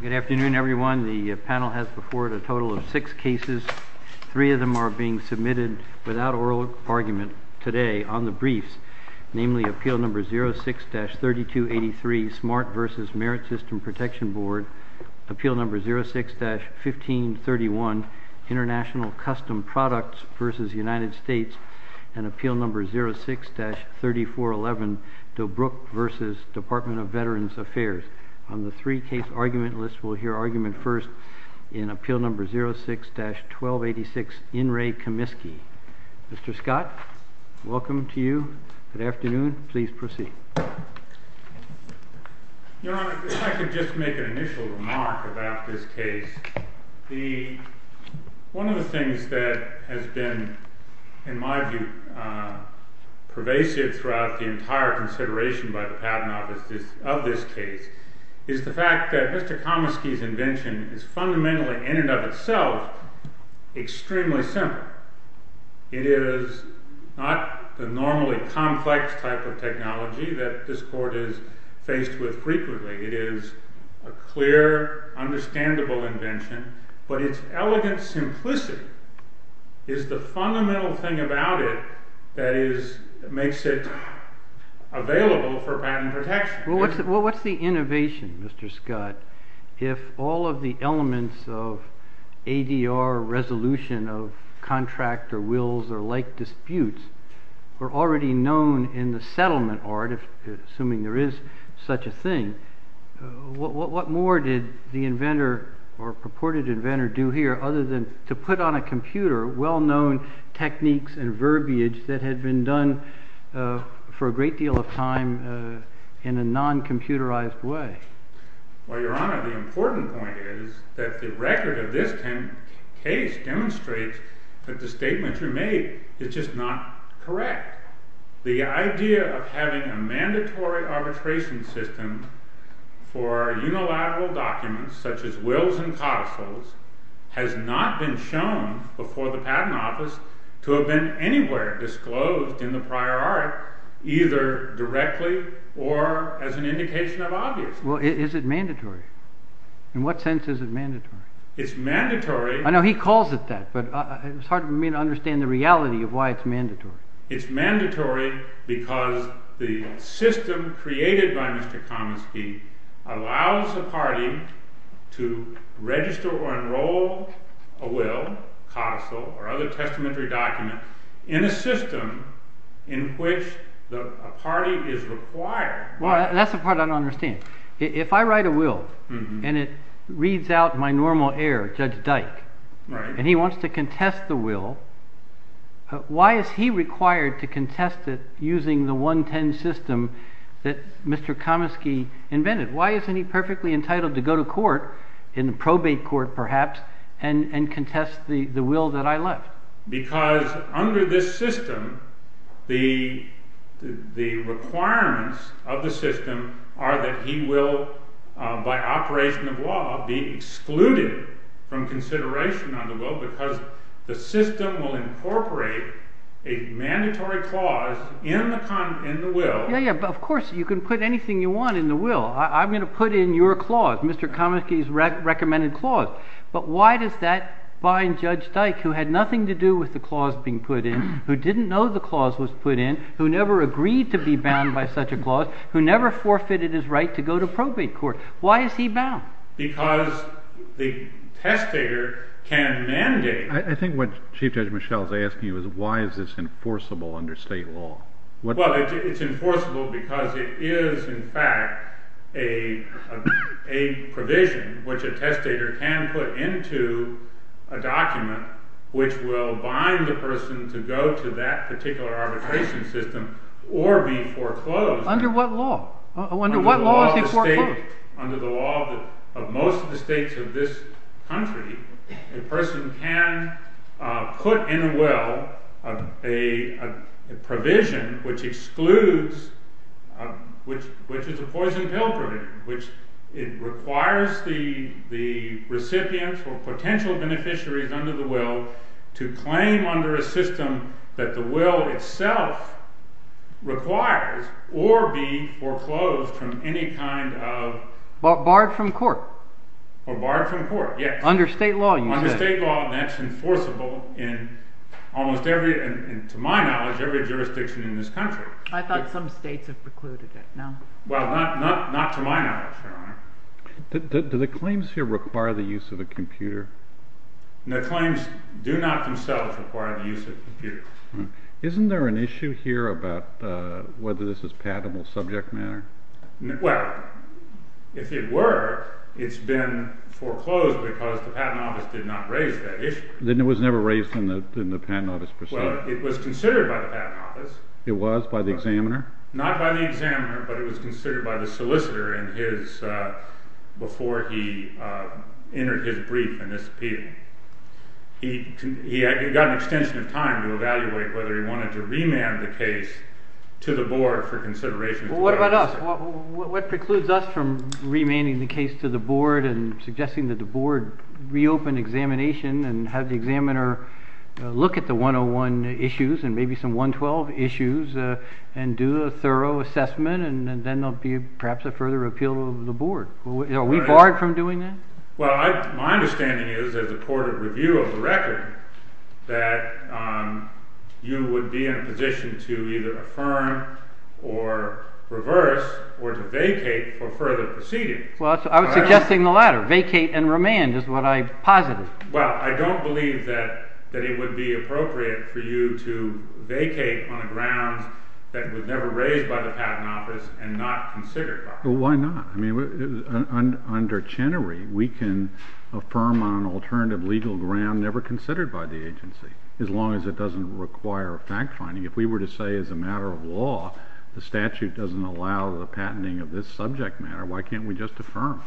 Good afternoon, everyone. The panel has before it a total of six cases. Three of them are being submitted without oral argument today on the briefs, namely, Appeal No. 06-3283, Smart v. Merit System Protection Board, Appeal No. 06-1531, International Custom Products v. United States, and Appeal No. 06-3411, Dobrok v. Department of Veterans Affairs. On the three-case argument list, we'll hear argument first in Appeal No. 06-1286, In Re Comiskey. Mr. Scott, welcome to you. Good afternoon. Please proceed. Your Honor, if I could just make an initial remark about this case. One of the things that has been, in my view, pervasive throughout the entire consideration of this case is the fact that Mr. Comiskey's invention is fundamentally, in and of itself, extremely simple. It is not the normally complex type of technology that this Court is to require understandable invention, but its elegant simplicity is the fundamental thing about it that makes it available for patent protection. Well, what's the innovation, Mr. Scott, if all of the elements of ADR resolution of contract or wills or like disputes were already known in the settlement art, assuming there is such a thing, what more did the inventor or purported inventor do here other than to put on a computer well-known techniques and verbiage that had been done for a great deal of time in a non-computerized way? Well, Your Honor, the important point is that the record of this case demonstrates that the statement you made is just not correct. The idea of having a mandatory arbitration system for unilateral documents such as wills and codicils has not been shown before the Patent Office to have been anywhere disclosed in the prior art, either directly or as an indication of obvious. Well, is it mandatory? In what sense is it mandatory? I know he calls it that, but it's hard for me to understand the reality of why it's mandatory. It's mandatory because the system created by Mr. Kaminsky allows a party to register or enroll a will, codicil, or other testamentary document in a system in which a party is required. That's the part I don't understand. If I write a will and it reads out my normal heir, Judge Dyke, and he wants to contest the will, why is he required to contest it using the 110 system that Mr. Kaminsky invented? Why isn't he perfectly entitled to go to court, in the probate court perhaps, and contest the will that I left? Because under this system, the requirements of the system are that he will, by operation of law, be excluded from consideration on the will because the system will incorporate a mandatory clause in the will. Yeah, yeah, but of course, you can put anything you want in the will. I'm going to put in your clause, Mr. Kaminsky's recommended clause. But why does that bind Judge Dyke, who had nothing to do with the clause being put in, who didn't know the clause was put in, who never agreed to be bound by such a clause, who never forfeited his right to go to probate court? Why is he bound? Because the testator can mandate. I think what Chief Judge Michel is asking you is why is this enforceable under state law? Well, it's enforceable because it is, in fact, a provision which a testator can put into a document which will bind a person to go to that particular arbitration system or be foreclosed. Under what law? Under what law is he foreclosed? I think under the law of most of the states of this country, a person can put in a will a provision which excludes, which is a poison pill provision. It requires the recipients or potential beneficiaries under the will to claim under a system that the will itself requires or be foreclosed from any kind of… Barred from court. Barred from court, yes. Under state law, you said. Under state law, that's enforceable in almost every, to my knowledge, every jurisdiction in this country. I thought some states have precluded it. Well, not to my knowledge, Your Honor. Do the claims here require the use of a computer? The claims do not themselves require the use of a computer. Isn't there an issue here about whether this is patentable subject matter? Well, if it were, it's been foreclosed because the Patent Office did not raise that issue. Then it was never raised in the Patent Office proceeding? Well, it was considered by the Patent Office. It was by the examiner? Not by the examiner, but it was considered by the solicitor before he entered his brief and disappeared. He got an extension of time to evaluate whether he wanted to remand the case to the board for consideration. What about us? What precludes us from remanding the case to the board and suggesting that the board reopen examination and have the examiner look at the 101 issues and maybe some 112 issues and do a thorough assessment and then there'll be perhaps a further repeal of the board? Are we barred from doing that? Well, my understanding is as a court of review of the record that you would be in a position to either affirm or reverse or to vacate for further proceedings. Well, I was suggesting the latter. Vacate and remand is what I posited. Well, I don't believe that it would be appropriate for you to vacate on a grounds that was never raised by the Patent Office and not considered by us. Well, why not? Under Chenery, we can affirm on an alternative legal ground never considered by the agency as long as it doesn't require fact-finding. If we were to say as a matter of law the statute doesn't allow the patenting of this subject matter, why can't we just affirm?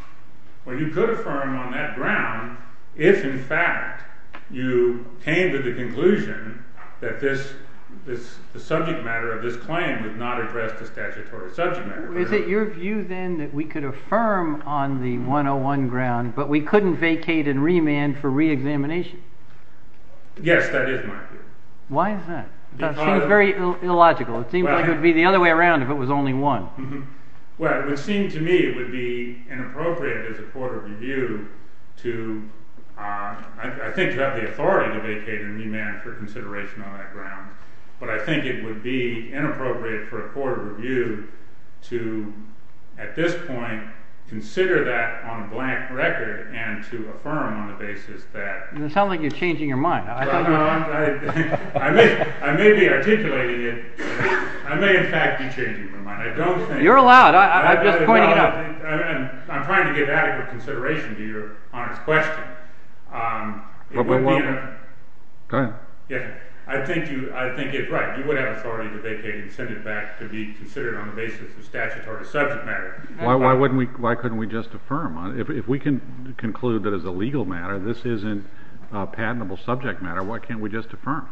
Well, you could affirm on that ground if, in fact, you came to the conclusion that the subject matter of this claim did not address the statutory subject matter. Is it your view, then, that we could affirm on the 101 ground, but we couldn't vacate and remand for re-examination? Yes, that is my view. Why is that? That seems very illogical. It seems like it would be the other way around if it was only one. Well, it would seem to me it would be inappropriate as a court of review to... I think you have the authority to vacate and remand for consideration on that ground, but I think it would be inappropriate for a court of review to, at this point, consider that on a blank record and to affirm on the basis that... It sounds like you're changing your mind. I may be articulating it. I may, in fact, be changing my mind. You're allowed. I'm just pointing it out. I'm trying to give adequate consideration to your honest question. Go ahead. I think it's right. You would have authority to vacate and send it back to be considered on the basis of statutory subject matter. Why couldn't we just affirm? If we can conclude that as a legal matter this isn't a patentable subject matter, why can't we just affirm?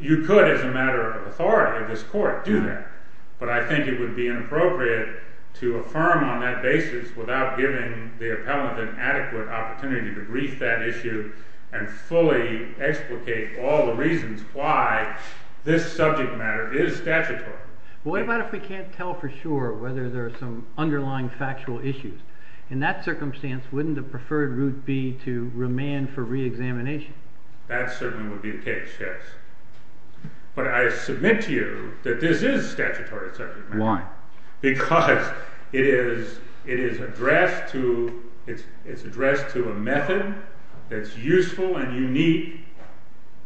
You could, as a matter of authority of this court, do that, but I think it would be inappropriate to affirm on that basis without giving the appellant an adequate opportunity to brief that issue and fully explicate all the reasons why this subject matter is statutory. What about if we can't tell for sure whether there are some underlying factual issues? In that circumstance, wouldn't the preferred route be to remand for reexamination? That certainly would be the case, yes. But I submit to you that this is statutory subject matter. Why? Because it is addressed to a method that's useful and unique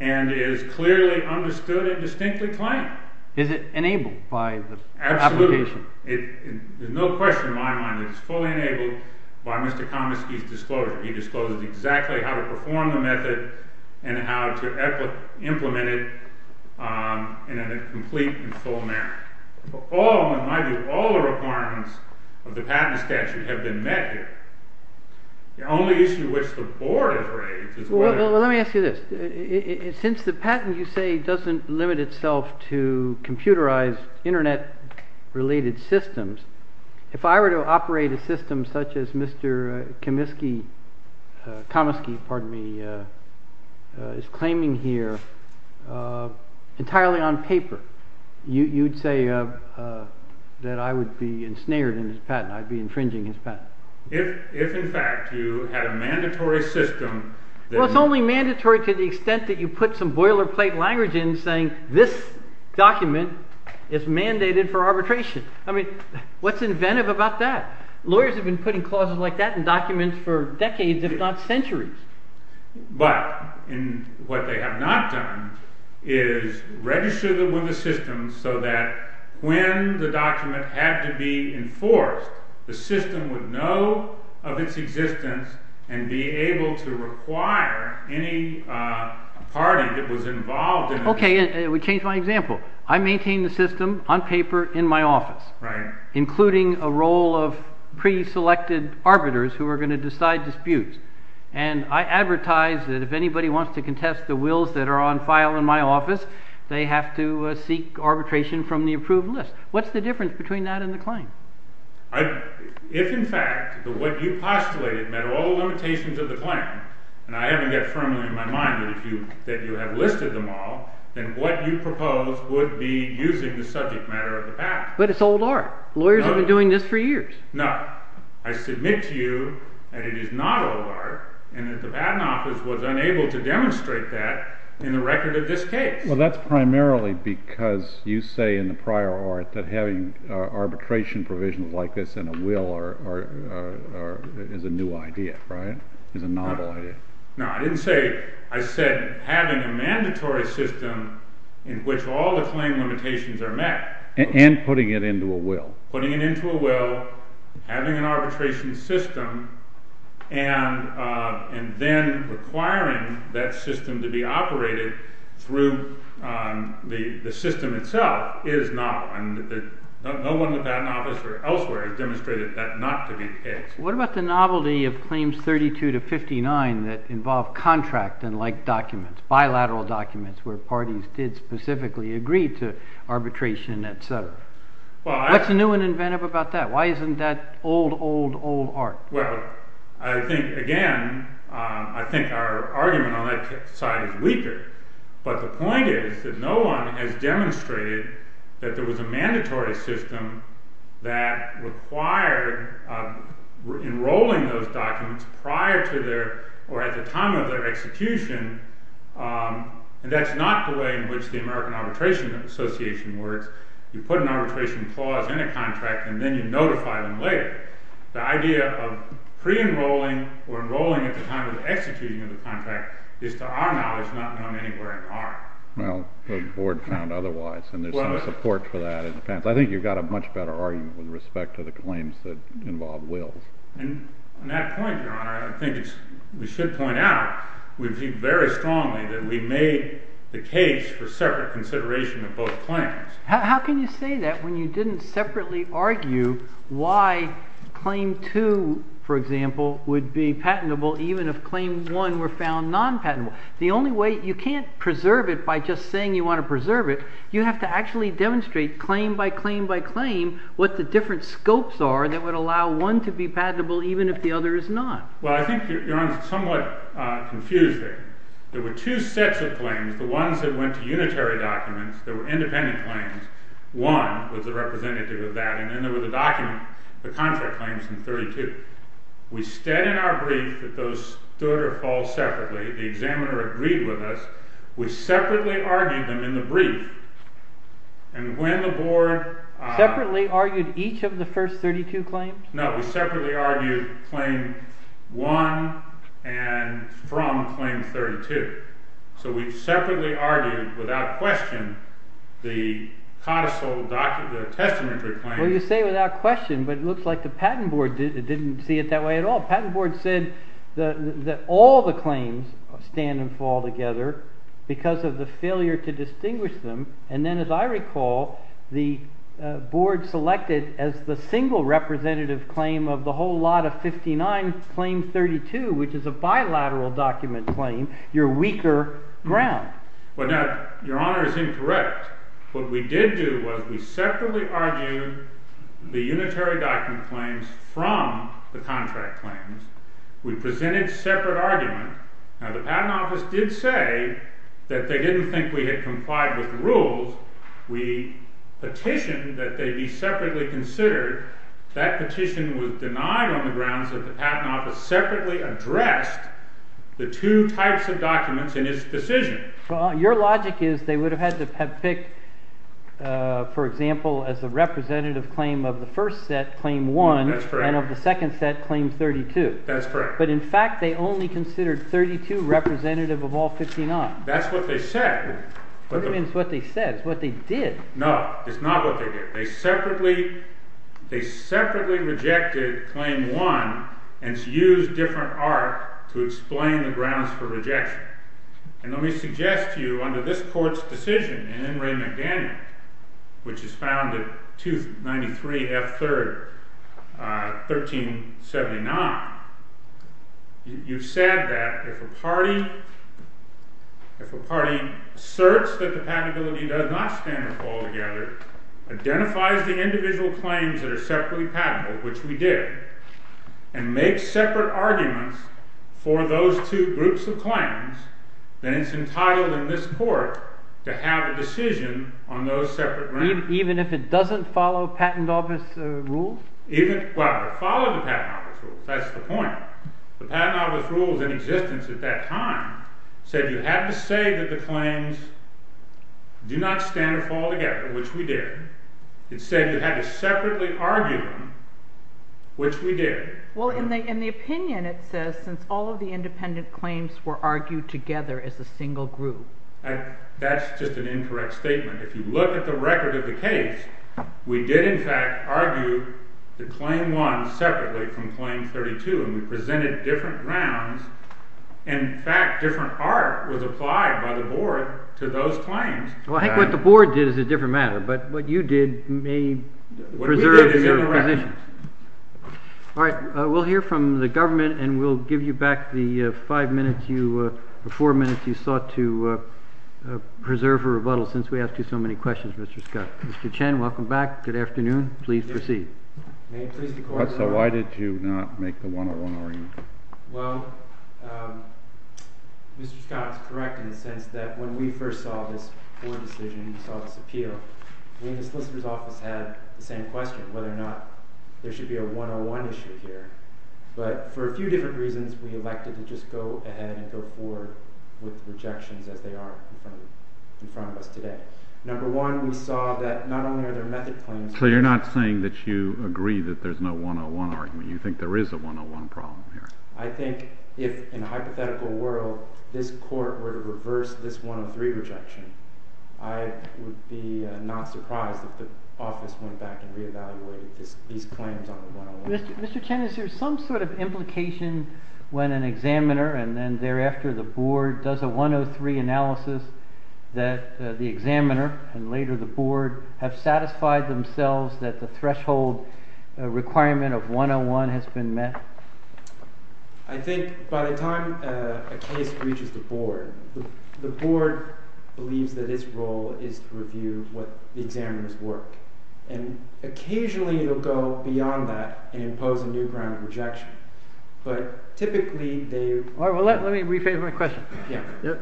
and is clearly understood and distinctly claimed. Is it enabled by the application? Absolutely. There's no question in my mind that it's fully enabled by Mr. Komiskey's disclosure. He discloses exactly how to perform the method and how to implement it in a complete and full manner. All, in my view, all the requirements of the patent statute have been met here. The only issue which the board has raised is whether— Well, let me ask you this. Since the patent, you say, doesn't limit itself to computerized, Internet-related systems, if I were to operate a system such as Mr. Komiskey is claiming here entirely on paper, you'd say that I would be ensnared in his patent, I'd be infringing his patent? If, in fact, you had a mandatory system— Well, it's only mandatory to the extent that you put some boilerplate language in saying, this document is mandated for arbitration. I mean, what's inventive about that? Lawyers have been putting clauses like that in documents for decades, if not centuries. But what they have not done is register them with the system so that when the document had to be enforced, the system would know of its existence and be able to require any party that was involved in it— Okay, and it would change my example. I maintain the system on paper in my office, including a role of pre-selected arbiters who are going to decide disputes. And I advertise that if anybody wants to contest the wills that are on file in my office, they have to seek arbitration from the approved list. What's the difference between that and the claim? If, in fact, what you postulated met all the limitations of the claim, and I haven't yet firmly in my mind that you have listed them all, then what you propose would be using the subject matter of the patent. But it's old art. Lawyers have been doing this for years. Now, I submit to you that it is not old art, and that the Patent Office was unable to demonstrate that in the record of this case. Well, that's primarily because you say in the prior art that having arbitration provisions like this in a will is a new idea, right? Is a novel idea. No, I didn't say—I said having a mandatory system in which all the claim limitations are met. And putting it into a will. Putting it into a will, having an arbitration system, and then requiring that system to be operated through the system itself is novel. And no one in the Patent Office or elsewhere has demonstrated that not to be the case. What about the novelty of claims 32 to 59 that involve contract and like documents, bilateral documents where parties did specifically agree to arbitration, etc.? What's new and inventive about that? Why isn't that old, old, old art? Well, I think, again, I think our argument on that side is weaker. But the point is that no one has demonstrated that there was a mandatory system that required enrolling those documents prior to their, or at the time of their execution. And that's not the way in which the American Arbitration Association works. You put an arbitration clause in a contract, and then you notify them later. The idea of pre-enrolling or enrolling at the time of the executing of the contract is, to our knowledge, not known anywhere in art. Well, the board found otherwise, and there's no support for that in the patent. I think you've got a much better argument with respect to the claims that involve wills. And on that point, Your Honor, I think we should point out, we think very strongly that we made the case for separate consideration of both claims. How can you say that when you didn't separately argue why Claim 2, for example, would be patentable even if Claim 1 were found non-patentable? The only way, you can't preserve it by just saying you want to preserve it. You have to actually demonstrate claim by claim by claim what the different scopes are that would allow one to be patentable even if the other is not. Well, I think Your Honor is somewhat confused there. There were two sets of claims. The ones that went to unitary documents that were independent claims. One was a representative of that, and then there was a document, the contract claims from 32. We said in our brief that those stood or fall separately. The examiner agreed with us. We separately argued them in the brief. And when the board... Separately argued each of the first 32 claims? No, we separately argued Claim 1 and from Claim 32. So we separately argued without question the codicil, the testamentary claims. Well, you say without question, but it looks like the patent board didn't see it that way at all. The patent board said that all the claims stand and fall together because of the failure to distinguish them. And then as I recall, the board selected as the single representative claim of the whole lot of 59, Claim 32, which is a bilateral document claim, your weaker ground. Well, Your Honor is incorrect. What we did do was we separately argued the unitary document claims from the contract claims. We presented separate arguments. Now, the patent office did say that they didn't think we had complied with the rules. We petitioned that they be separately considered. That petition was denied on the grounds that the patent office separately addressed the two types of documents in its decision. Your logic is they would have had to have picked, for example, as a representative claim of the first set, Claim 1, and of the second set, Claim 32. That's correct. But in fact, they only considered 32 representative of all 59. That's what they said. What do you mean it's what they said? It's what they did. No, it's not what they did. They separately rejected Claim 1 and used different art to explain the grounds for rejection. And let me suggest to you, under this court's decision in Ray McDaniel, which is found at 293 F. 3rd, 1379, you said that if a party asserts that the patentability does not stand or fall together, identifies the individual claims that are separately patentable, which we did, and makes separate arguments for those two groups of claims, then it's entitled in this court to have a decision on those separate grounds. Even if it doesn't follow patent office rules? Well, it followed the patent office rules. That's the point. The patent office rules in existence at that time said you had to say that the claims do not stand or fall together, which we did. It said you had to separately argue them, which we did. Well, in the opinion it says since all of the independent claims were argued together as a single group. That's just an incorrect statement. If you look at the record of the case, we did in fact argue that Claim 1 separately from Claim 32, and we presented different grounds. In fact, different art was applied by the board to those claims. Well, I think what the board did is a different matter, but what you did may preserve your position. All right. We'll hear from the government, and we'll give you back the five minutes, the four minutes you sought to preserve a rebuttal since we asked you so many questions, Mr. Scott. Mr. Chen, welcome back. Good afternoon. Please proceed. So why did you not make the one-on-one argument? Well, Mr. Scott is correct in the sense that when we first saw this board decision and saw this appeal, we in the solicitor's office had the same question, whether or not there should be a one-on-one issue here. But for a few different reasons, we elected to just go ahead and go forward with rejections as they are in front of us today. Number one, we saw that not only are there method claims— So you're not saying that you agree that there's no one-on-one argument. You think there is a one-on-one problem here. I think if in a hypothetical world this court were to reverse this one-on-three rejection, I would be not surprised if the office went back and reevaluated these claims on the one-on-one. Mr. Chen, is there some sort of implication when an examiner and then thereafter the board does a one-on-three analysis that the examiner and later the board have satisfied themselves that the threshold requirement of one-on-one has been met? I think by the time a case reaches the board, the board believes that its role is to review what the examiner's work. And occasionally it will go beyond that and impose a new ground of rejection. But typically they— Let me rephrase my question.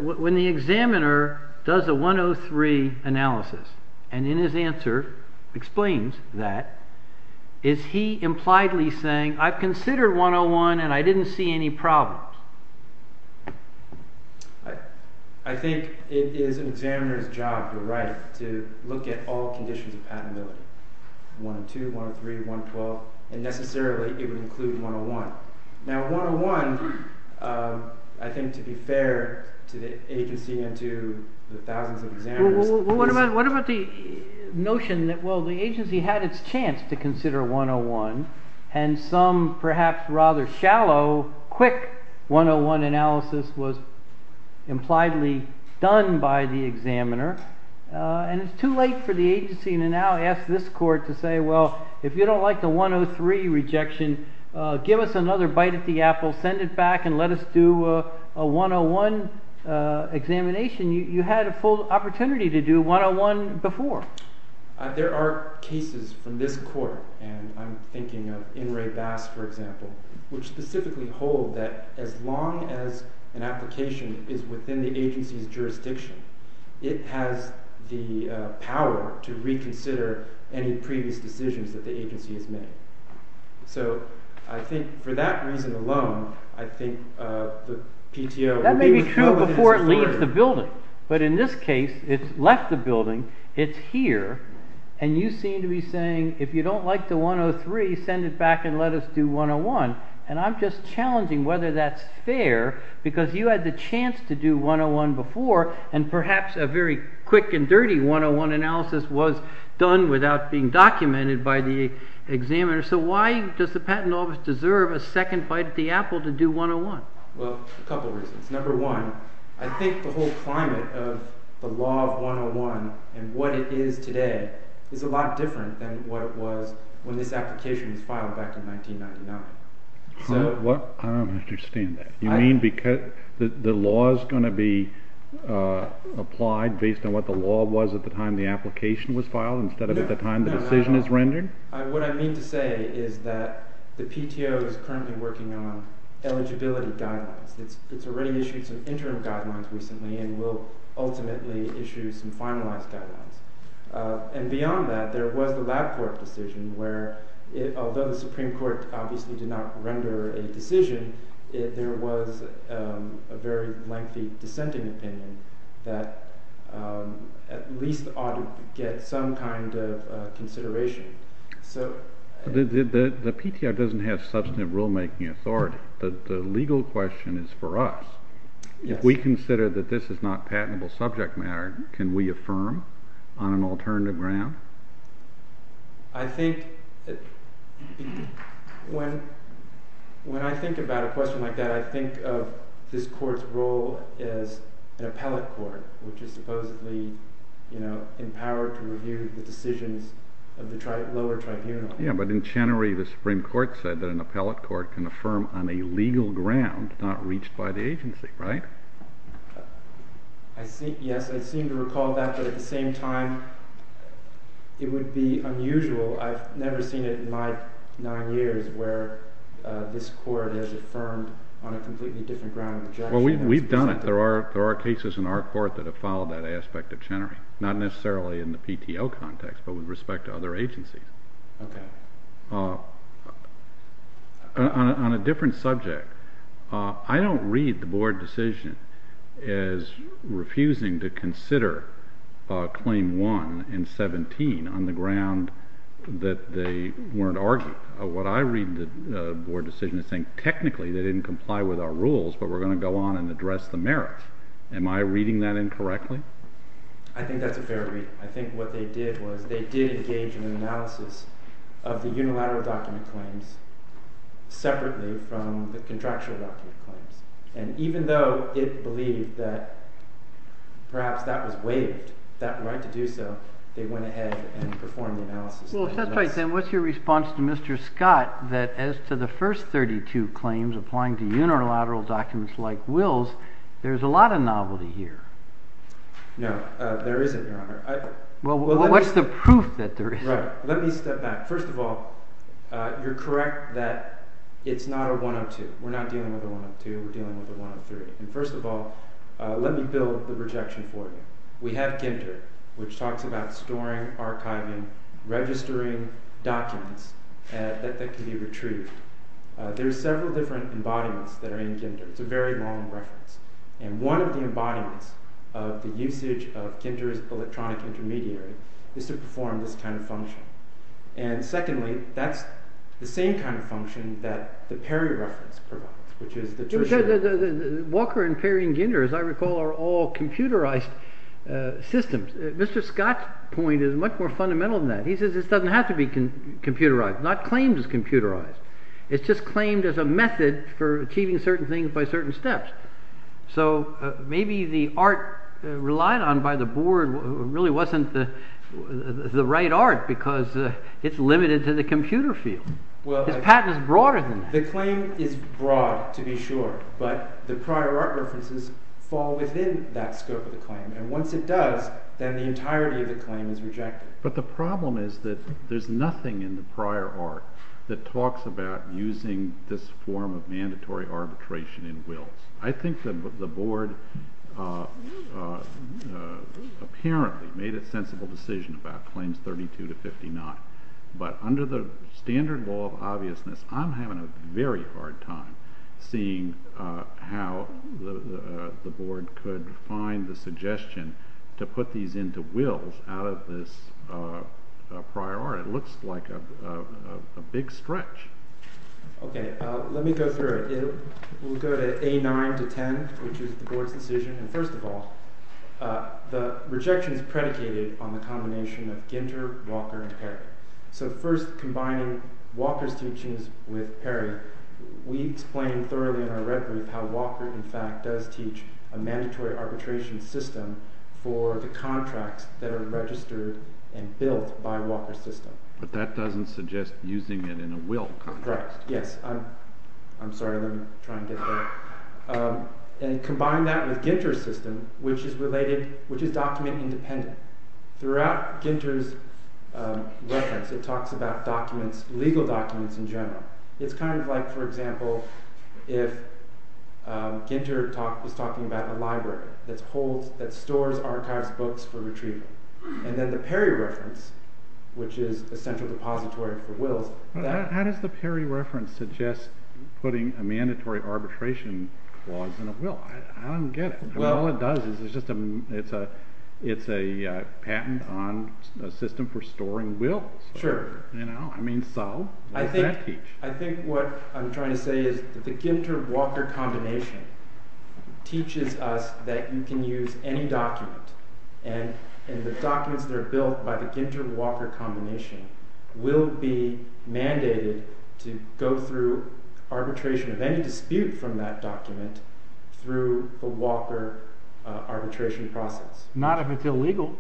When the examiner does a one-on-three analysis and in his answer explains that, is he impliedly saying, I've considered one-on-one and I didn't see any problems? I think it is an examiner's job, you're right, to look at all conditions of patentability. One-on-two, one-on-three, one-on-twelve, and necessarily it would include one-on-one. Now one-on-one, I think to be fair to the agency and to the thousands of examiners— What about the notion that, well, the agency had its chance to consider one-on-one, and some perhaps rather shallow, quick one-on-one analysis was impliedly done by the examiner, and it's too late for the agency to now ask this court to say, well, if you don't like the one-on-three rejection, give us another bite at the apple, send it back, and let us do a one-on-one examination. You had a full opportunity to do one-on-one before. There are cases from this court, and I'm thinking of In re Basque, for example, which specifically hold that as long as an application is within the agency's jurisdiction, it has the power to reconsider any previous decisions that the agency has made. So I think for that reason alone, I think the PTO— That may be true before it leaves the building, but in this case, it's left the building, it's here, and you seem to be saying, if you don't like the one-on-three, send it back and let us do one-on-one, and I'm just challenging whether that's fair, because you had the chance to do one-on-one before, and perhaps a very quick and dirty one-on-one analysis was done without being documented by the examiner. So why does the patent office deserve a second bite at the apple to do one-on-one? Well, a couple reasons. Number one, I think the whole climate of the law of one-on-one and what it is today is a lot different than what it was when this application was filed back in 1999. I don't understand that. You mean the law is going to be applied based on what the law was at the time the application was filed instead of at the time the decision is rendered? What I mean to say is that the PTO is currently working on eligibility guidelines. It's already issued some interim guidelines recently and will ultimately issue some finalized guidelines. And beyond that, there was the lab court decision where, although the Supreme Court obviously did not render a decision, there was a very lengthy dissenting opinion that at least ought to get some kind of consideration. The PTO doesn't have substantive rulemaking authority. The legal question is for us. If we consider that this is not patentable subject matter, can we affirm on an alternative ground? When I think about a question like that, I think of this court's role as an appellate court, which is supposedly empowered to review the decisions of the lower tribunal. But in Chenery, the Supreme Court said that an appellate court can affirm on a legal ground not reached by the agency, right? Yes, I seem to recall that, but at the same time, it would be unusual. I've never seen it in my nine years where this court has affirmed on a completely different ground. Well, we've done it. There are cases in our court that have followed that aspect of Chenery. Not necessarily in the PTO context, but with respect to other agencies. Okay. On a different subject, I don't read the board decision as refusing to consider Claim 1 and 17 on the ground that they weren't arguing. What I read in the board decision is saying, technically, they didn't comply with our rules, but we're going to go on and address the merits. Am I reading that incorrectly? I think that's a fair read. I think what they did was they did engage in an analysis of the unilateral document claims separately from the contractual document claims. And even though it believed that perhaps that was waived, that right to do so, they went ahead and performed the analysis. Well, if that's right, then what's your response to Mr. Scott that as to the first 32 claims applying to unilateral documents like Will's, there's a lot of novelty here? No, there isn't, Your Honor. Well, what's the proof that there is? Let me step back. First of all, you're correct that it's not a 102. We're not dealing with a 102. We're dealing with a 103. And first of all, let me build the rejection for you. We have Ginter, which talks about storing, archiving, registering documents that can be retrieved. There are several different embodiments that are in Ginter. It's a very long reference. And one of the embodiments of the usage of Ginter's electronic intermediary is to perform this kind of function. And secondly, that's the same kind of function that the Perry reference provides, which is the tertiary. Walker and Perry and Ginter, as I recall, are all computerized systems. Mr. Scott's point is much more fundamental than that. He says this doesn't have to be computerized. Not claimed as computerized. It's just claimed as a method for achieving certain things by certain steps. So maybe the art relied on by the board really wasn't the right art because it's limited to the computer field. His patent is broader than that. The claim is broad, to be sure, but the prior art references fall within that scope of the claim. And once it does, then the entirety of the claim is rejected. But the problem is that there's nothing in the prior art that talks about using this form of mandatory arbitration in wills. I think that the board apparently made a sensible decision about claims 32 to 59, but under the standard law of obviousness, I'm having a very hard time seeing how the board could find the suggestion to put these into wills out of this prior art. It looks like a big stretch. Okay, let me go through it. We'll go to A9 to 10, which is the board's decision. And first of all, the rejection is predicated on the combination of Ginter, Walker, and Perry. So first, combining Walker's teachings with Perry, we explain thoroughly in our red brief how Walker, in fact, does teach a mandatory arbitration system for the contracts that are registered and built by Walker's system. But that doesn't suggest using it in a will context. Correct, yes. I'm sorry, let me try and get there. And combine that with Ginter's system, which is related, which is document independent. Throughout Ginter's reference, it talks about documents, legal documents in general. It's kind of like, for example, if Ginter is talking about a library that stores, archives books for retrieval. And then the Perry reference, which is a central depository for wills. How does the Perry reference suggest putting a mandatory arbitration clause in a will? I don't get it. All it does is it's a patent on a system for storing wills. Sure. So, what does that teach? I think what I'm trying to say is that the Ginter-Walker combination teaches us that you can use any document. And the documents that are built by the Ginter-Walker combination will be mandated to go through arbitration of any dispute from that document through the Walker arbitration process. Not if it's illegal.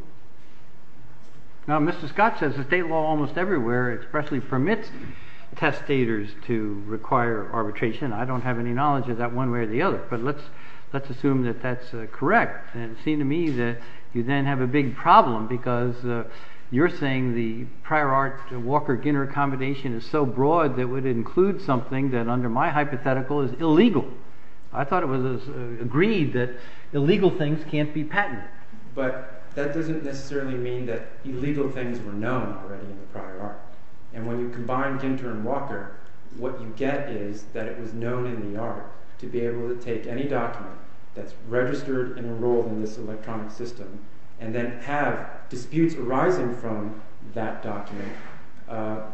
Now, Mr. Scott says the state law almost everywhere expressly permits testators to require arbitration. I don't have any knowledge of that one way or the other, but let's assume that that's correct. And it seems to me that you then have a big problem because you're saying the prior art Walker-Ginter combination is so broad that it would include something that under my hypothetical is illegal. I thought it was agreed that illegal things can't be patented. But that doesn't necessarily mean that illegal things were known already in the prior art. And when you combine Ginter and Walker, what you get is that it was known in the art to be able to take any document that's registered and enrolled in this electronic system and then have disputes arising from that document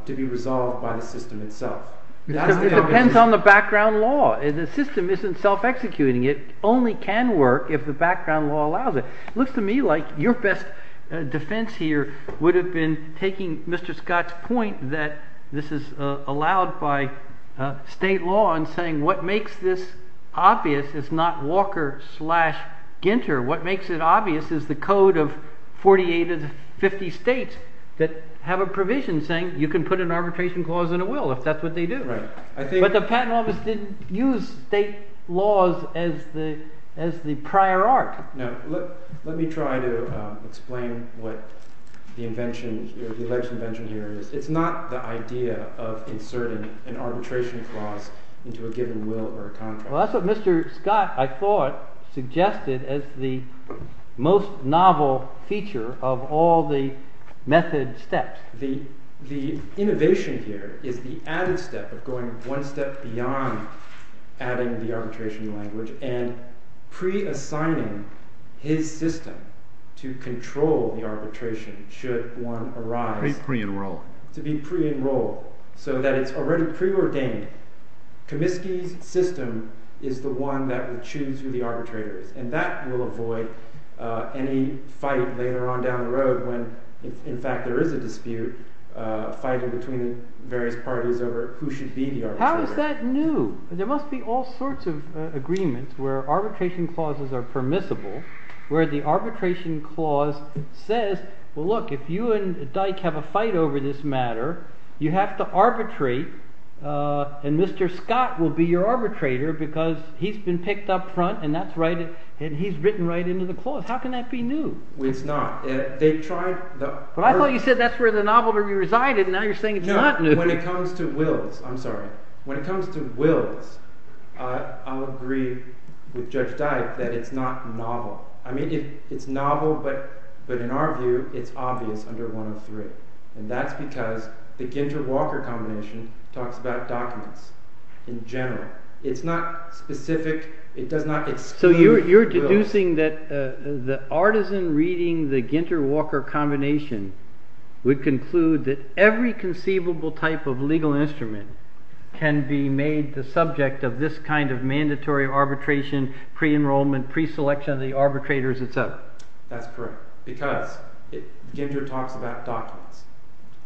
to be resolved by the system itself. It depends on the background law. The system isn't self-executing. It only can work if the background law allows it. It looks to me like your best defense here would have been taking Mr. Scott's point that this is allowed by state law and saying what makes this obvious is not Walker-Ginter. What makes it obvious is the code of 48 of the 50 states that have a provision saying you can put an arbitration clause in a will if that's what they do. But the patent office didn't use state laws as the prior art. Let me try to explain what the alleged invention here is. It's not the idea of inserting an arbitration clause into a given will or contract. Well, that's what Mr. Scott, I thought, suggested as the most novel feature of all the method steps. The innovation here is the added step of going one step beyond adding the arbitration language and pre-assigning his system to control the arbitration should one arise. To be pre-enrolled. To be pre-enrolled so that it's already preordained. Comiskey's system is the one that will choose who the arbitrator is. And that will avoid any fight later on down the road when, in fact, there is a dispute fighting between the various parties over who should be the arbitrator. How is that new? There must be all sorts of agreements where arbitration clauses are permissible, where the arbitration clause says, well, look, if you and Dyck have a fight over this matter, you have to arbitrate. And Mr. Scott will be your arbitrator because he's been picked up front and that's right. And he's written right into the clause. How can that be new? It's not. They tried. But I thought you said that's where the novel would be resided. And now you're saying it's not new. When it comes to wills, I'm sorry. When it comes to wills, I'll agree with Judge Dyck that it's not novel. I mean, it's novel, but in our view, it's obvious under 103. And that's because the Ginter-Walker combination talks about documents in general. It's not specific. It does not exclude. So you're deducing that the artisan reading the Ginter-Walker combination would conclude that every conceivable type of legal instrument can be made the subject of this kind of mandatory arbitration, pre-enrollment, pre-selection of the arbitrators, etc. That's correct. Because Ginter talks about documents.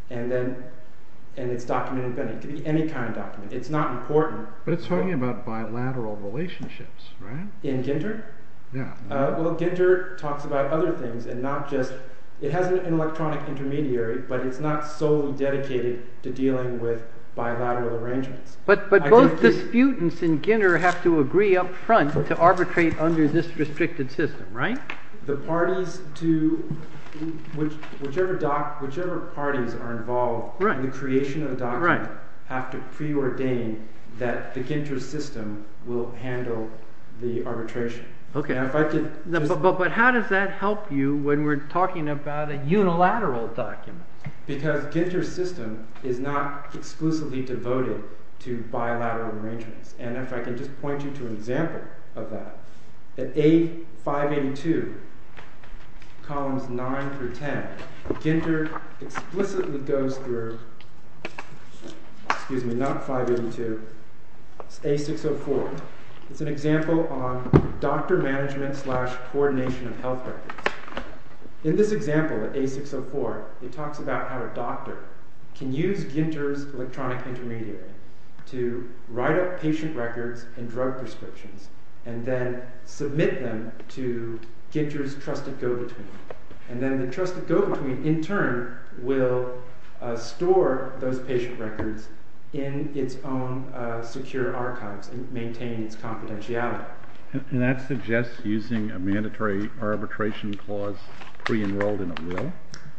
And then it's documented. It could be any kind of document. It's not important. But it's talking about bilateral relationships, right? In Ginter? Well, Ginter talks about other things and not just – it has an electronic intermediary, but it's not solely dedicated to dealing with bilateral arrangements. But both disputants in Ginter have to agree up front to arbitrate under this restricted system, right? The parties to – whichever parties are involved in the creation of the document have to preordain that the Ginter system will handle the arbitration. Okay. But how does that help you when we're talking about a unilateral document? Because Ginter's system is not exclusively devoted to bilateral arrangements. And if I can just point you to an example of that. At A582, columns 9 through 10, Ginter explicitly goes through – excuse me, not 582. It's A604. It's an example on doctor management slash coordination of health records. In this example, A604, it talks about how a doctor can use Ginter's electronic intermediary to write up patient records and drug prescriptions and then submit them to Ginter's trusted go-between. And then the trusted go-between, in turn, will store those patient records in its own secure archives and maintain its confidentiality. And that suggests using a mandatory arbitration clause pre-enrolled in a will?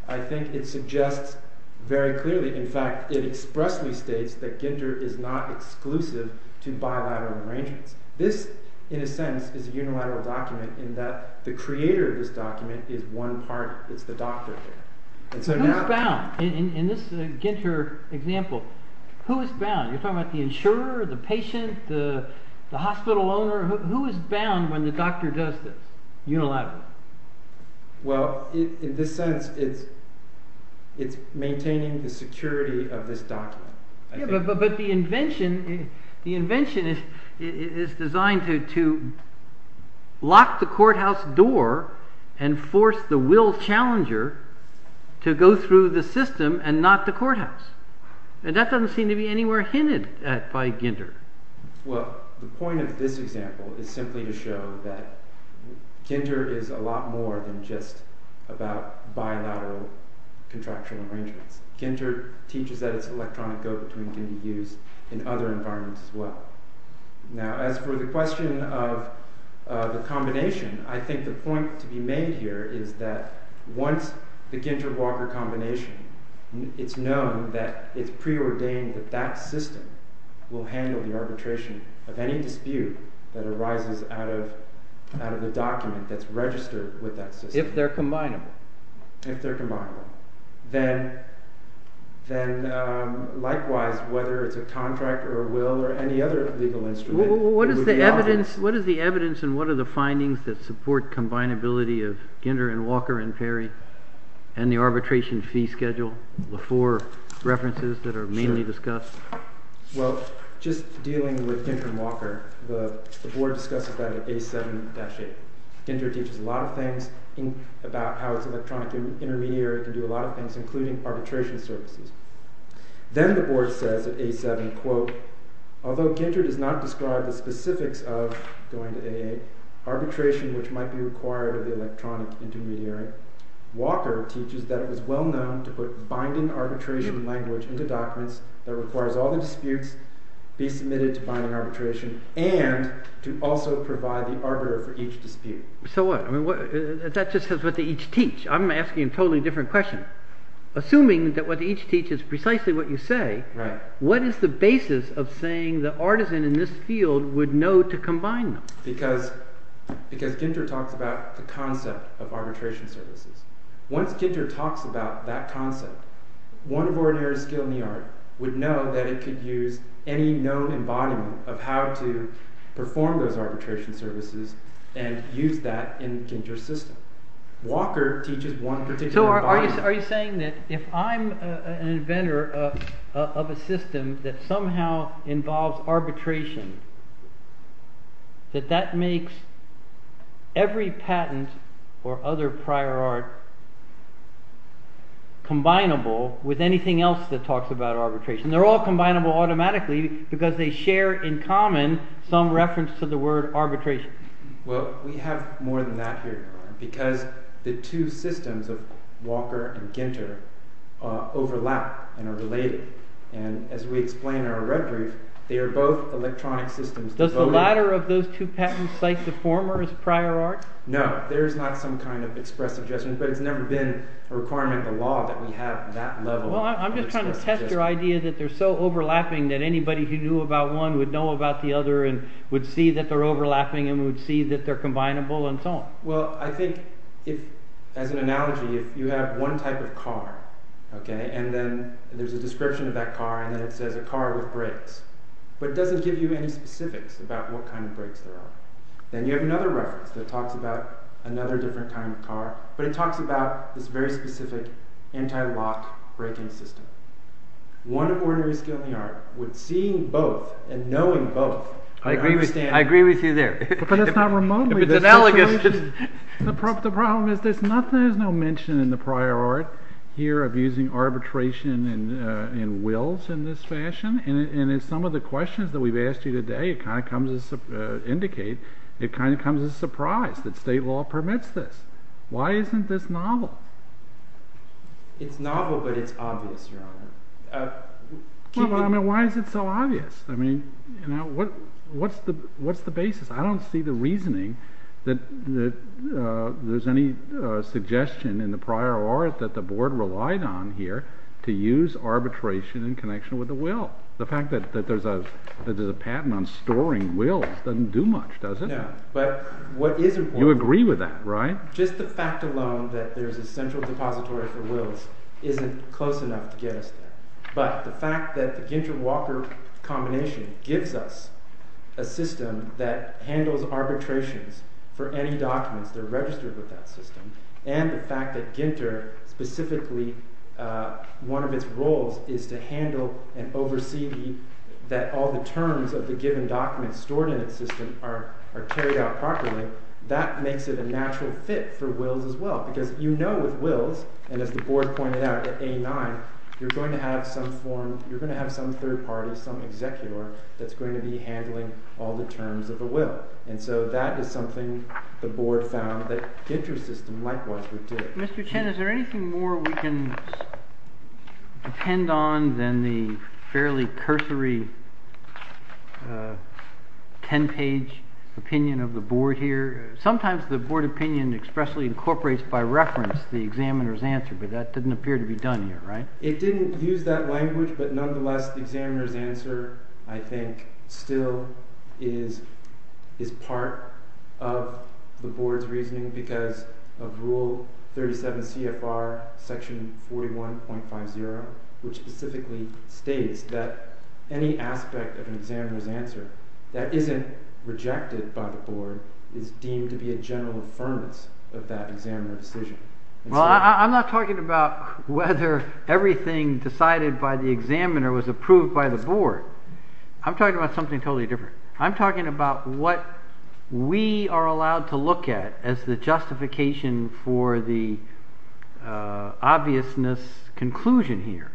I think it suggests very clearly – in fact, it expressly states that Ginter is not exclusive to bilateral arrangements. This, in a sense, is a unilateral document in that the creator of this document is one party. It's the doctor. And so now – Who is bound? In this Ginter example, who is bound? You're talking about the insurer, the patient, the hospital owner. Who is bound when the doctor does this unilaterally? Well, in this sense, it's maintaining the security of this document. But the invention is designed to lock the courthouse door and force the will challenger to go through the system and not the courthouse. And that doesn't seem to be anywhere hinted at by Ginter. Well, the point of this example is simply to show that Ginter is a lot more than just about bilateral contractual arrangements. Ginter teaches that its electronic go-between can be used in other environments as well. Now, as for the question of the combination, I think the point to be made here is that once the Ginter-Walker combination – it's known that it's preordained that that system will handle the arbitration of any dispute that arises out of the document that's registered with that system. If they're combinable. If they're combinable. Then likewise, whether it's a contract or a will or any other legal instrument – What is the evidence and what are the findings that support combinability of Ginter and Walker and Perry and the arbitration fee schedule? The four references that are mainly discussed? Well, just dealing with Ginter and Walker, the board discusses that at A7-8. Ginter teaches a lot of things about how its electronic intermediary can do a lot of things, including arbitration services. Then the board says at A7, quote, Although Ginter does not describe the specifics of, going to A8, arbitration which might be required of the electronic intermediary, Walker teaches that it was well known to put binding arbitration language into documents that requires all the disputes be submitted to binding arbitration and to also provide the arbiter for each dispute. So what? That just says what they each teach. I'm asking a totally different question. Assuming that what they each teach is precisely what you say, what is the basis of saying the artisan in this field would know to combine them? Because Ginter talks about the concept of arbitration services. Once Ginter talks about that concept, one of ordinary skill in the art would know that it could use any known embodiment of how to perform those arbitration services and use that in Ginter's system. Walker teaches one particular embodiment. Are you saying that if I'm an inventor of a system that somehow involves arbitration, that that makes every patent or other prior art combinable with anything else that talks about arbitration? They're all combinable automatically because they share in common some reference to the word arbitration. Well, we have more than that here, because the two systems of Walker and Ginter overlap and are related. And as we explain in our retrieve, they are both electronic systems. Does the latter of those two patents cite the former as prior art? No, there's not some kind of expressive judgment, but it's never been a requirement of the law that we have that level of expressive judgment. I'm just trying to test your idea that they're so overlapping that anybody who knew about one would know about the other and would see that they're overlapping and would see that they're combinable and so on. Well, I think as an analogy, if you have one type of car, and then there's a description of that car, and then it says a car with brakes, but it doesn't give you any specifics about what kind of brakes there are. Then you have another reference that talks about another different kind of car, but it talks about this very specific anti-lock braking system. One of ordinary skill in the art would see both and knowing both. I agree with you there. But it's not remotely. It's analogous. The problem is there's no mention in the prior art here of using arbitration and wills in this fashion. And in some of the questions that we've asked you today, it kind of comes as a surprise that state law permits this. Why isn't this novel? It's novel, but it's obvious, Your Honor. Well, I mean, why is it so obvious? I mean, what's the basis? I don't see the reasoning that there's any suggestion in the prior art that the board relied on here to use arbitration in connection with the will. The fact that there's a patent on storing wills doesn't do much, does it? No. You agree with that, right? Just the fact alone that there's a central depository for wills isn't close enough to get us there. But the fact that the Ginter-Walker combination gives us a system that handles arbitrations for any documents that are registered with that system, and the fact that Ginter specifically, one of its roles is to handle and oversee that all the terms of the given documents stored in its system are carried out properly, that makes it a natural fit for wills as well. Because you know with wills, and as the board pointed out at A-9, you're going to have some third party, some executor, that's going to be handling all the terms of a will. And so that is something the board found that Ginter's system likewise would do. Mr. Chen, is there anything more we can depend on than the fairly cursory 10-page opinion of the board here? Sometimes the board opinion expressly incorporates by reference the examiner's answer, but that didn't appear to be done here, right? It didn't use that language, but nonetheless the examiner's answer, I think, still is part of the board's reasoning because of rule 37 CFR section 41.50, which specifically states that any aspect of an examiner's answer that isn't rejected by the board is deemed to be a general affirmance of that examiner's decision. Well, I'm not talking about whether everything decided by the examiner was approved by the board. I'm talking about something totally different. I'm talking about what we are allowed to look at as the justification for the obviousness conclusion here.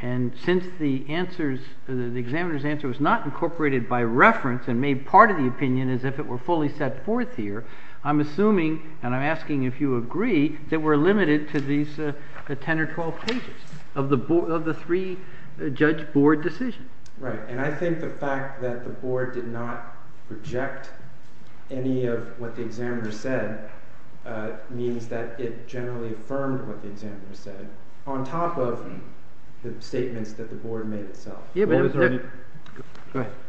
And since the examiner's answer was not incorporated by reference and made part of the opinion as if it were fully set forth here, I'm assuming, and I'm asking if you agree, that we're limited to these 10 or 12 pages of the three-judge board decision. Right, and I think the fact that the board did not reject any of what the examiner said means that it generally affirmed what the examiner said on top of the statements that the board made itself.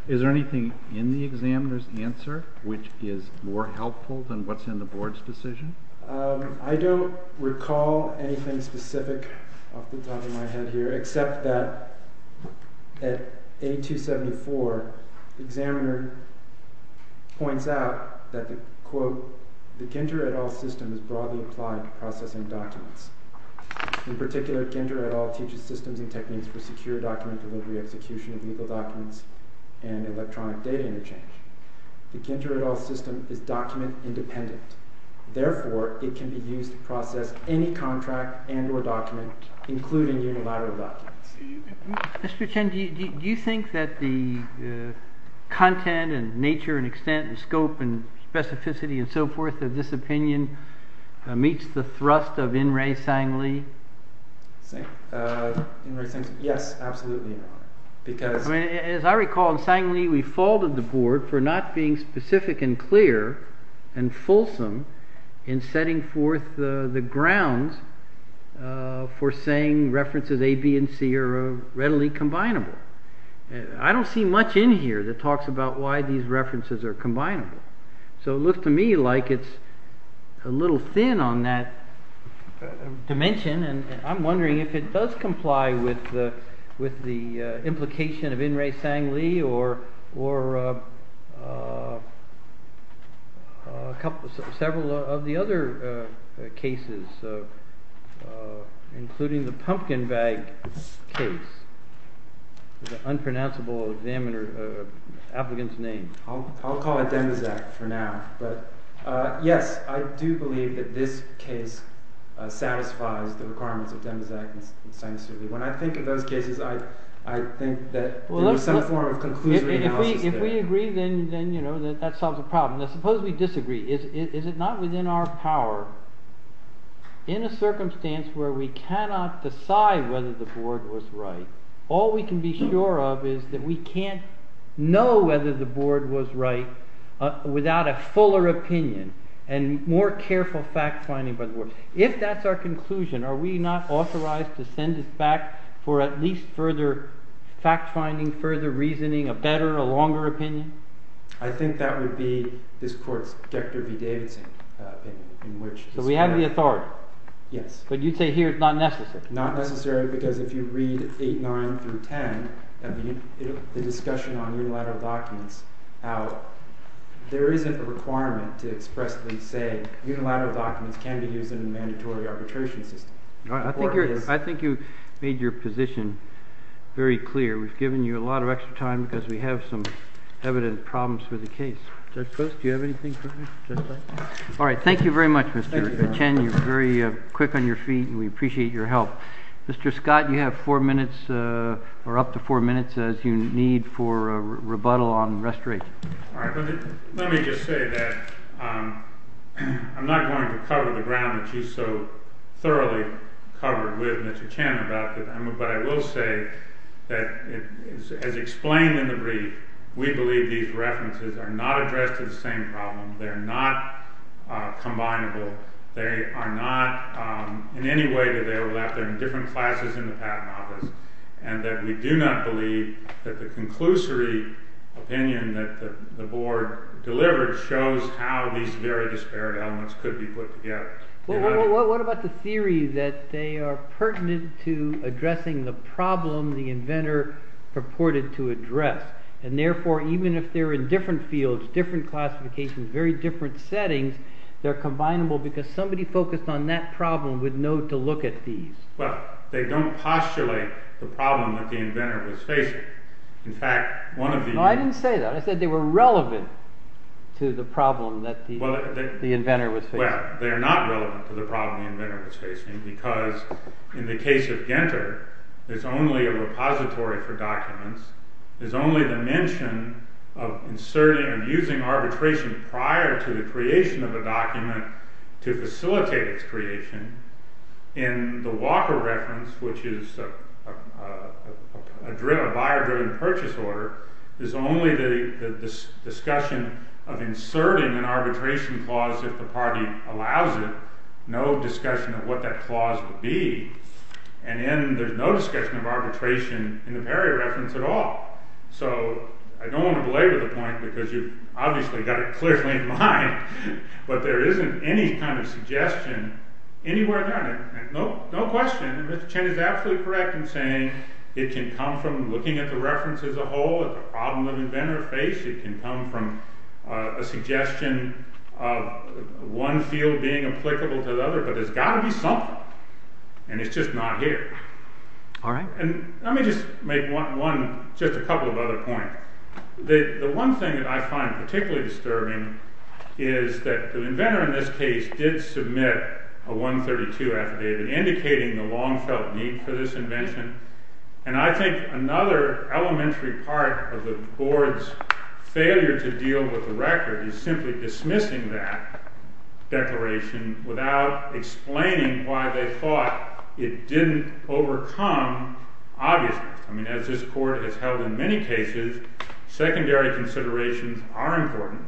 Is there anything in the examiner's answer which is more helpful than what's in the board's decision? I don't recall anything specific off the top of my head here, except that at A274, the examiner points out that, quote, the Ginter et al. system is broadly applied to processing documents. In particular, Ginter et al. teaches systems and techniques for secure document delivery, execution of legal documents, and electronic data interchange. The Ginter et al. system is document independent. Therefore, it can be used to process any contract and or document, including unilateral documents. Mr. Chen, do you think that the content and nature and extent and scope and specificity and so forth of this opinion meets the thrust of In-Rei Sang-Li? Yes, absolutely. As I recall, in Sang-Li, we faulted the board for not being specific and clear and fulsome in setting forth the grounds for saying references A, B, and C are readily combinable. I don't see much in here that talks about why these references are combinable. So it looks to me like it's a little thin on that dimension, and I'm wondering if it does comply with the implication of In-Rei Sang-Li or several of the other cases, including the pumpkin bag case. It's an unpronounceable applicant's name. I'll call it Demizak for now. But yes, I do believe that this case satisfies the requirements of Demizak and Sang-Li. When I think of those cases, I think that there's some form of conclusion analysis there. If we agree, then that solves the problem. Now suppose we disagree. Is it not within our power, in a circumstance where we cannot decide whether the board was right, all we can be sure of is that we can't know whether the board was right without a fuller opinion and more careful fact-finding by the board. If that's our conclusion, are we not authorized to send this back for at least further fact-finding, further reasoning, a better, a longer opinion? I think that would be this court's Dexter B. Davidson opinion. So we have the authority. Yes. But you'd say here it's not necessary. Not necessary because if you read 8.9 through 10, the discussion on unilateral documents, how there isn't a requirement to expressly say unilateral documents can be used in a mandatory arbitration system. I think you made your position very clear. We've given you a lot of extra time because we have some evident problems with the case. Judge Post, do you have anything for me? All right. Thank you very much, Mr. Chen. You're very quick on your feet, and we appreciate your help. Mr. Scott, you have four minutes or up to four minutes as you need for a rebuttal on restoration. All right. Let me just say that I'm not going to cover the ground that you so thoroughly covered with Mr. Chen about, but I will say that as explained in the brief, we believe these references are not addressed to the same problem. They're not combinable. They are not in any way to their left. They're in different classes in the patent office, and that we do not believe that the conclusory opinion that the board delivered shows how these very disparate elements could be put together. What about the theory that they are pertinent to addressing the problem the inventor purported to address, and therefore even if they're in different fields, different classifications, very different settings, they're combinable because somebody focused on that problem would know to look at these. Well, they don't postulate the problem that the inventor was facing. In fact, one of the— No, I didn't say that. I said they were relevant to the problem that the inventor was facing. Well, they are not relevant to the problem the inventor was facing because in the case of Genter, there's only a repository for documents. There's only the mention of inserting and using arbitration prior to the creation of a document to facilitate its creation. In the Walker reference, which is a buyer-driven purchase order, there's only the discussion of inserting an arbitration clause if the party allows it, no discussion of what that clause would be. And then there's no discussion of arbitration in the Perry reference at all. So I don't want to belabor the point because you've obviously got it clearly in mind, but there isn't any kind of suggestion anywhere there. No question, Mr. Chen is absolutely correct in saying it can come from looking at the reference as a whole, at the problem the inventor faced. It can come from a suggestion of one field being applicable to the other, but there's got to be something. And it's just not here. Let me just make one, just a couple of other points. The one thing that I find particularly disturbing is that the inventor in this case did submit a 132 affidavit indicating the long-felt need for this invention, and I think another elementary part of the board's failure to deal with the record is simply dismissing that declaration without explaining why they thought it didn't overcome, obviously, as this court has held in many cases, secondary considerations are important.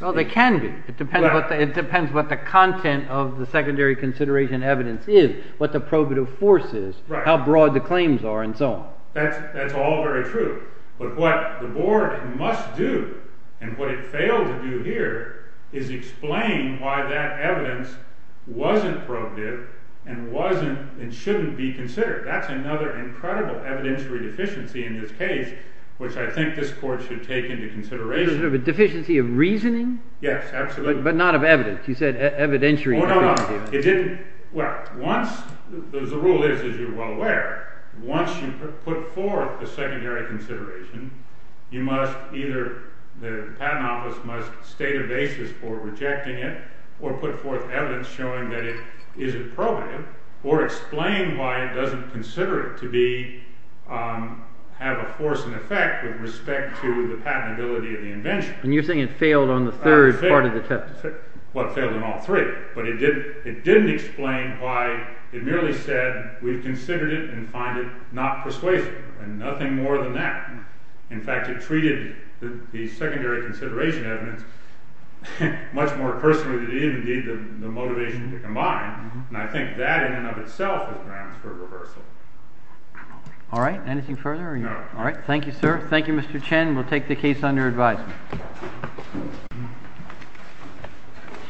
Well, they can be. It depends what the content of the secondary consideration evidence is, what the probative force is, how broad the claims are, and so on. That's all very true. But what the board must do, and what it failed to do here, is explain why that evidence wasn't probative and shouldn't be considered. That's another incredible evidentiary deficiency in this case, which I think this court should take into consideration. A deficiency of reasoning? Yes, absolutely. But not of evidence. You said evidentiary deficiency. Well, the rule is, as you're well aware, once you put forth a secondary consideration, the patent office must either state a basis for rejecting it, or put forth evidence showing that it isn't probative, or explain why it doesn't consider it to have a force and effect with respect to the patentability of the invention. And you're saying it failed on the third part of the test? Well, it failed on all three. But it didn't explain why it merely said we've considered it and find it not persuasive, and nothing more than that. In fact, it treated the secondary consideration evidence much more personally than it did indeed the motivation to combine. And I think that in and of itself is grounds for reversal. All right. Anything further? No. All right. Thank you, sir. Thank you, Mr. Chen. We'll take the case under advisement. Thank you.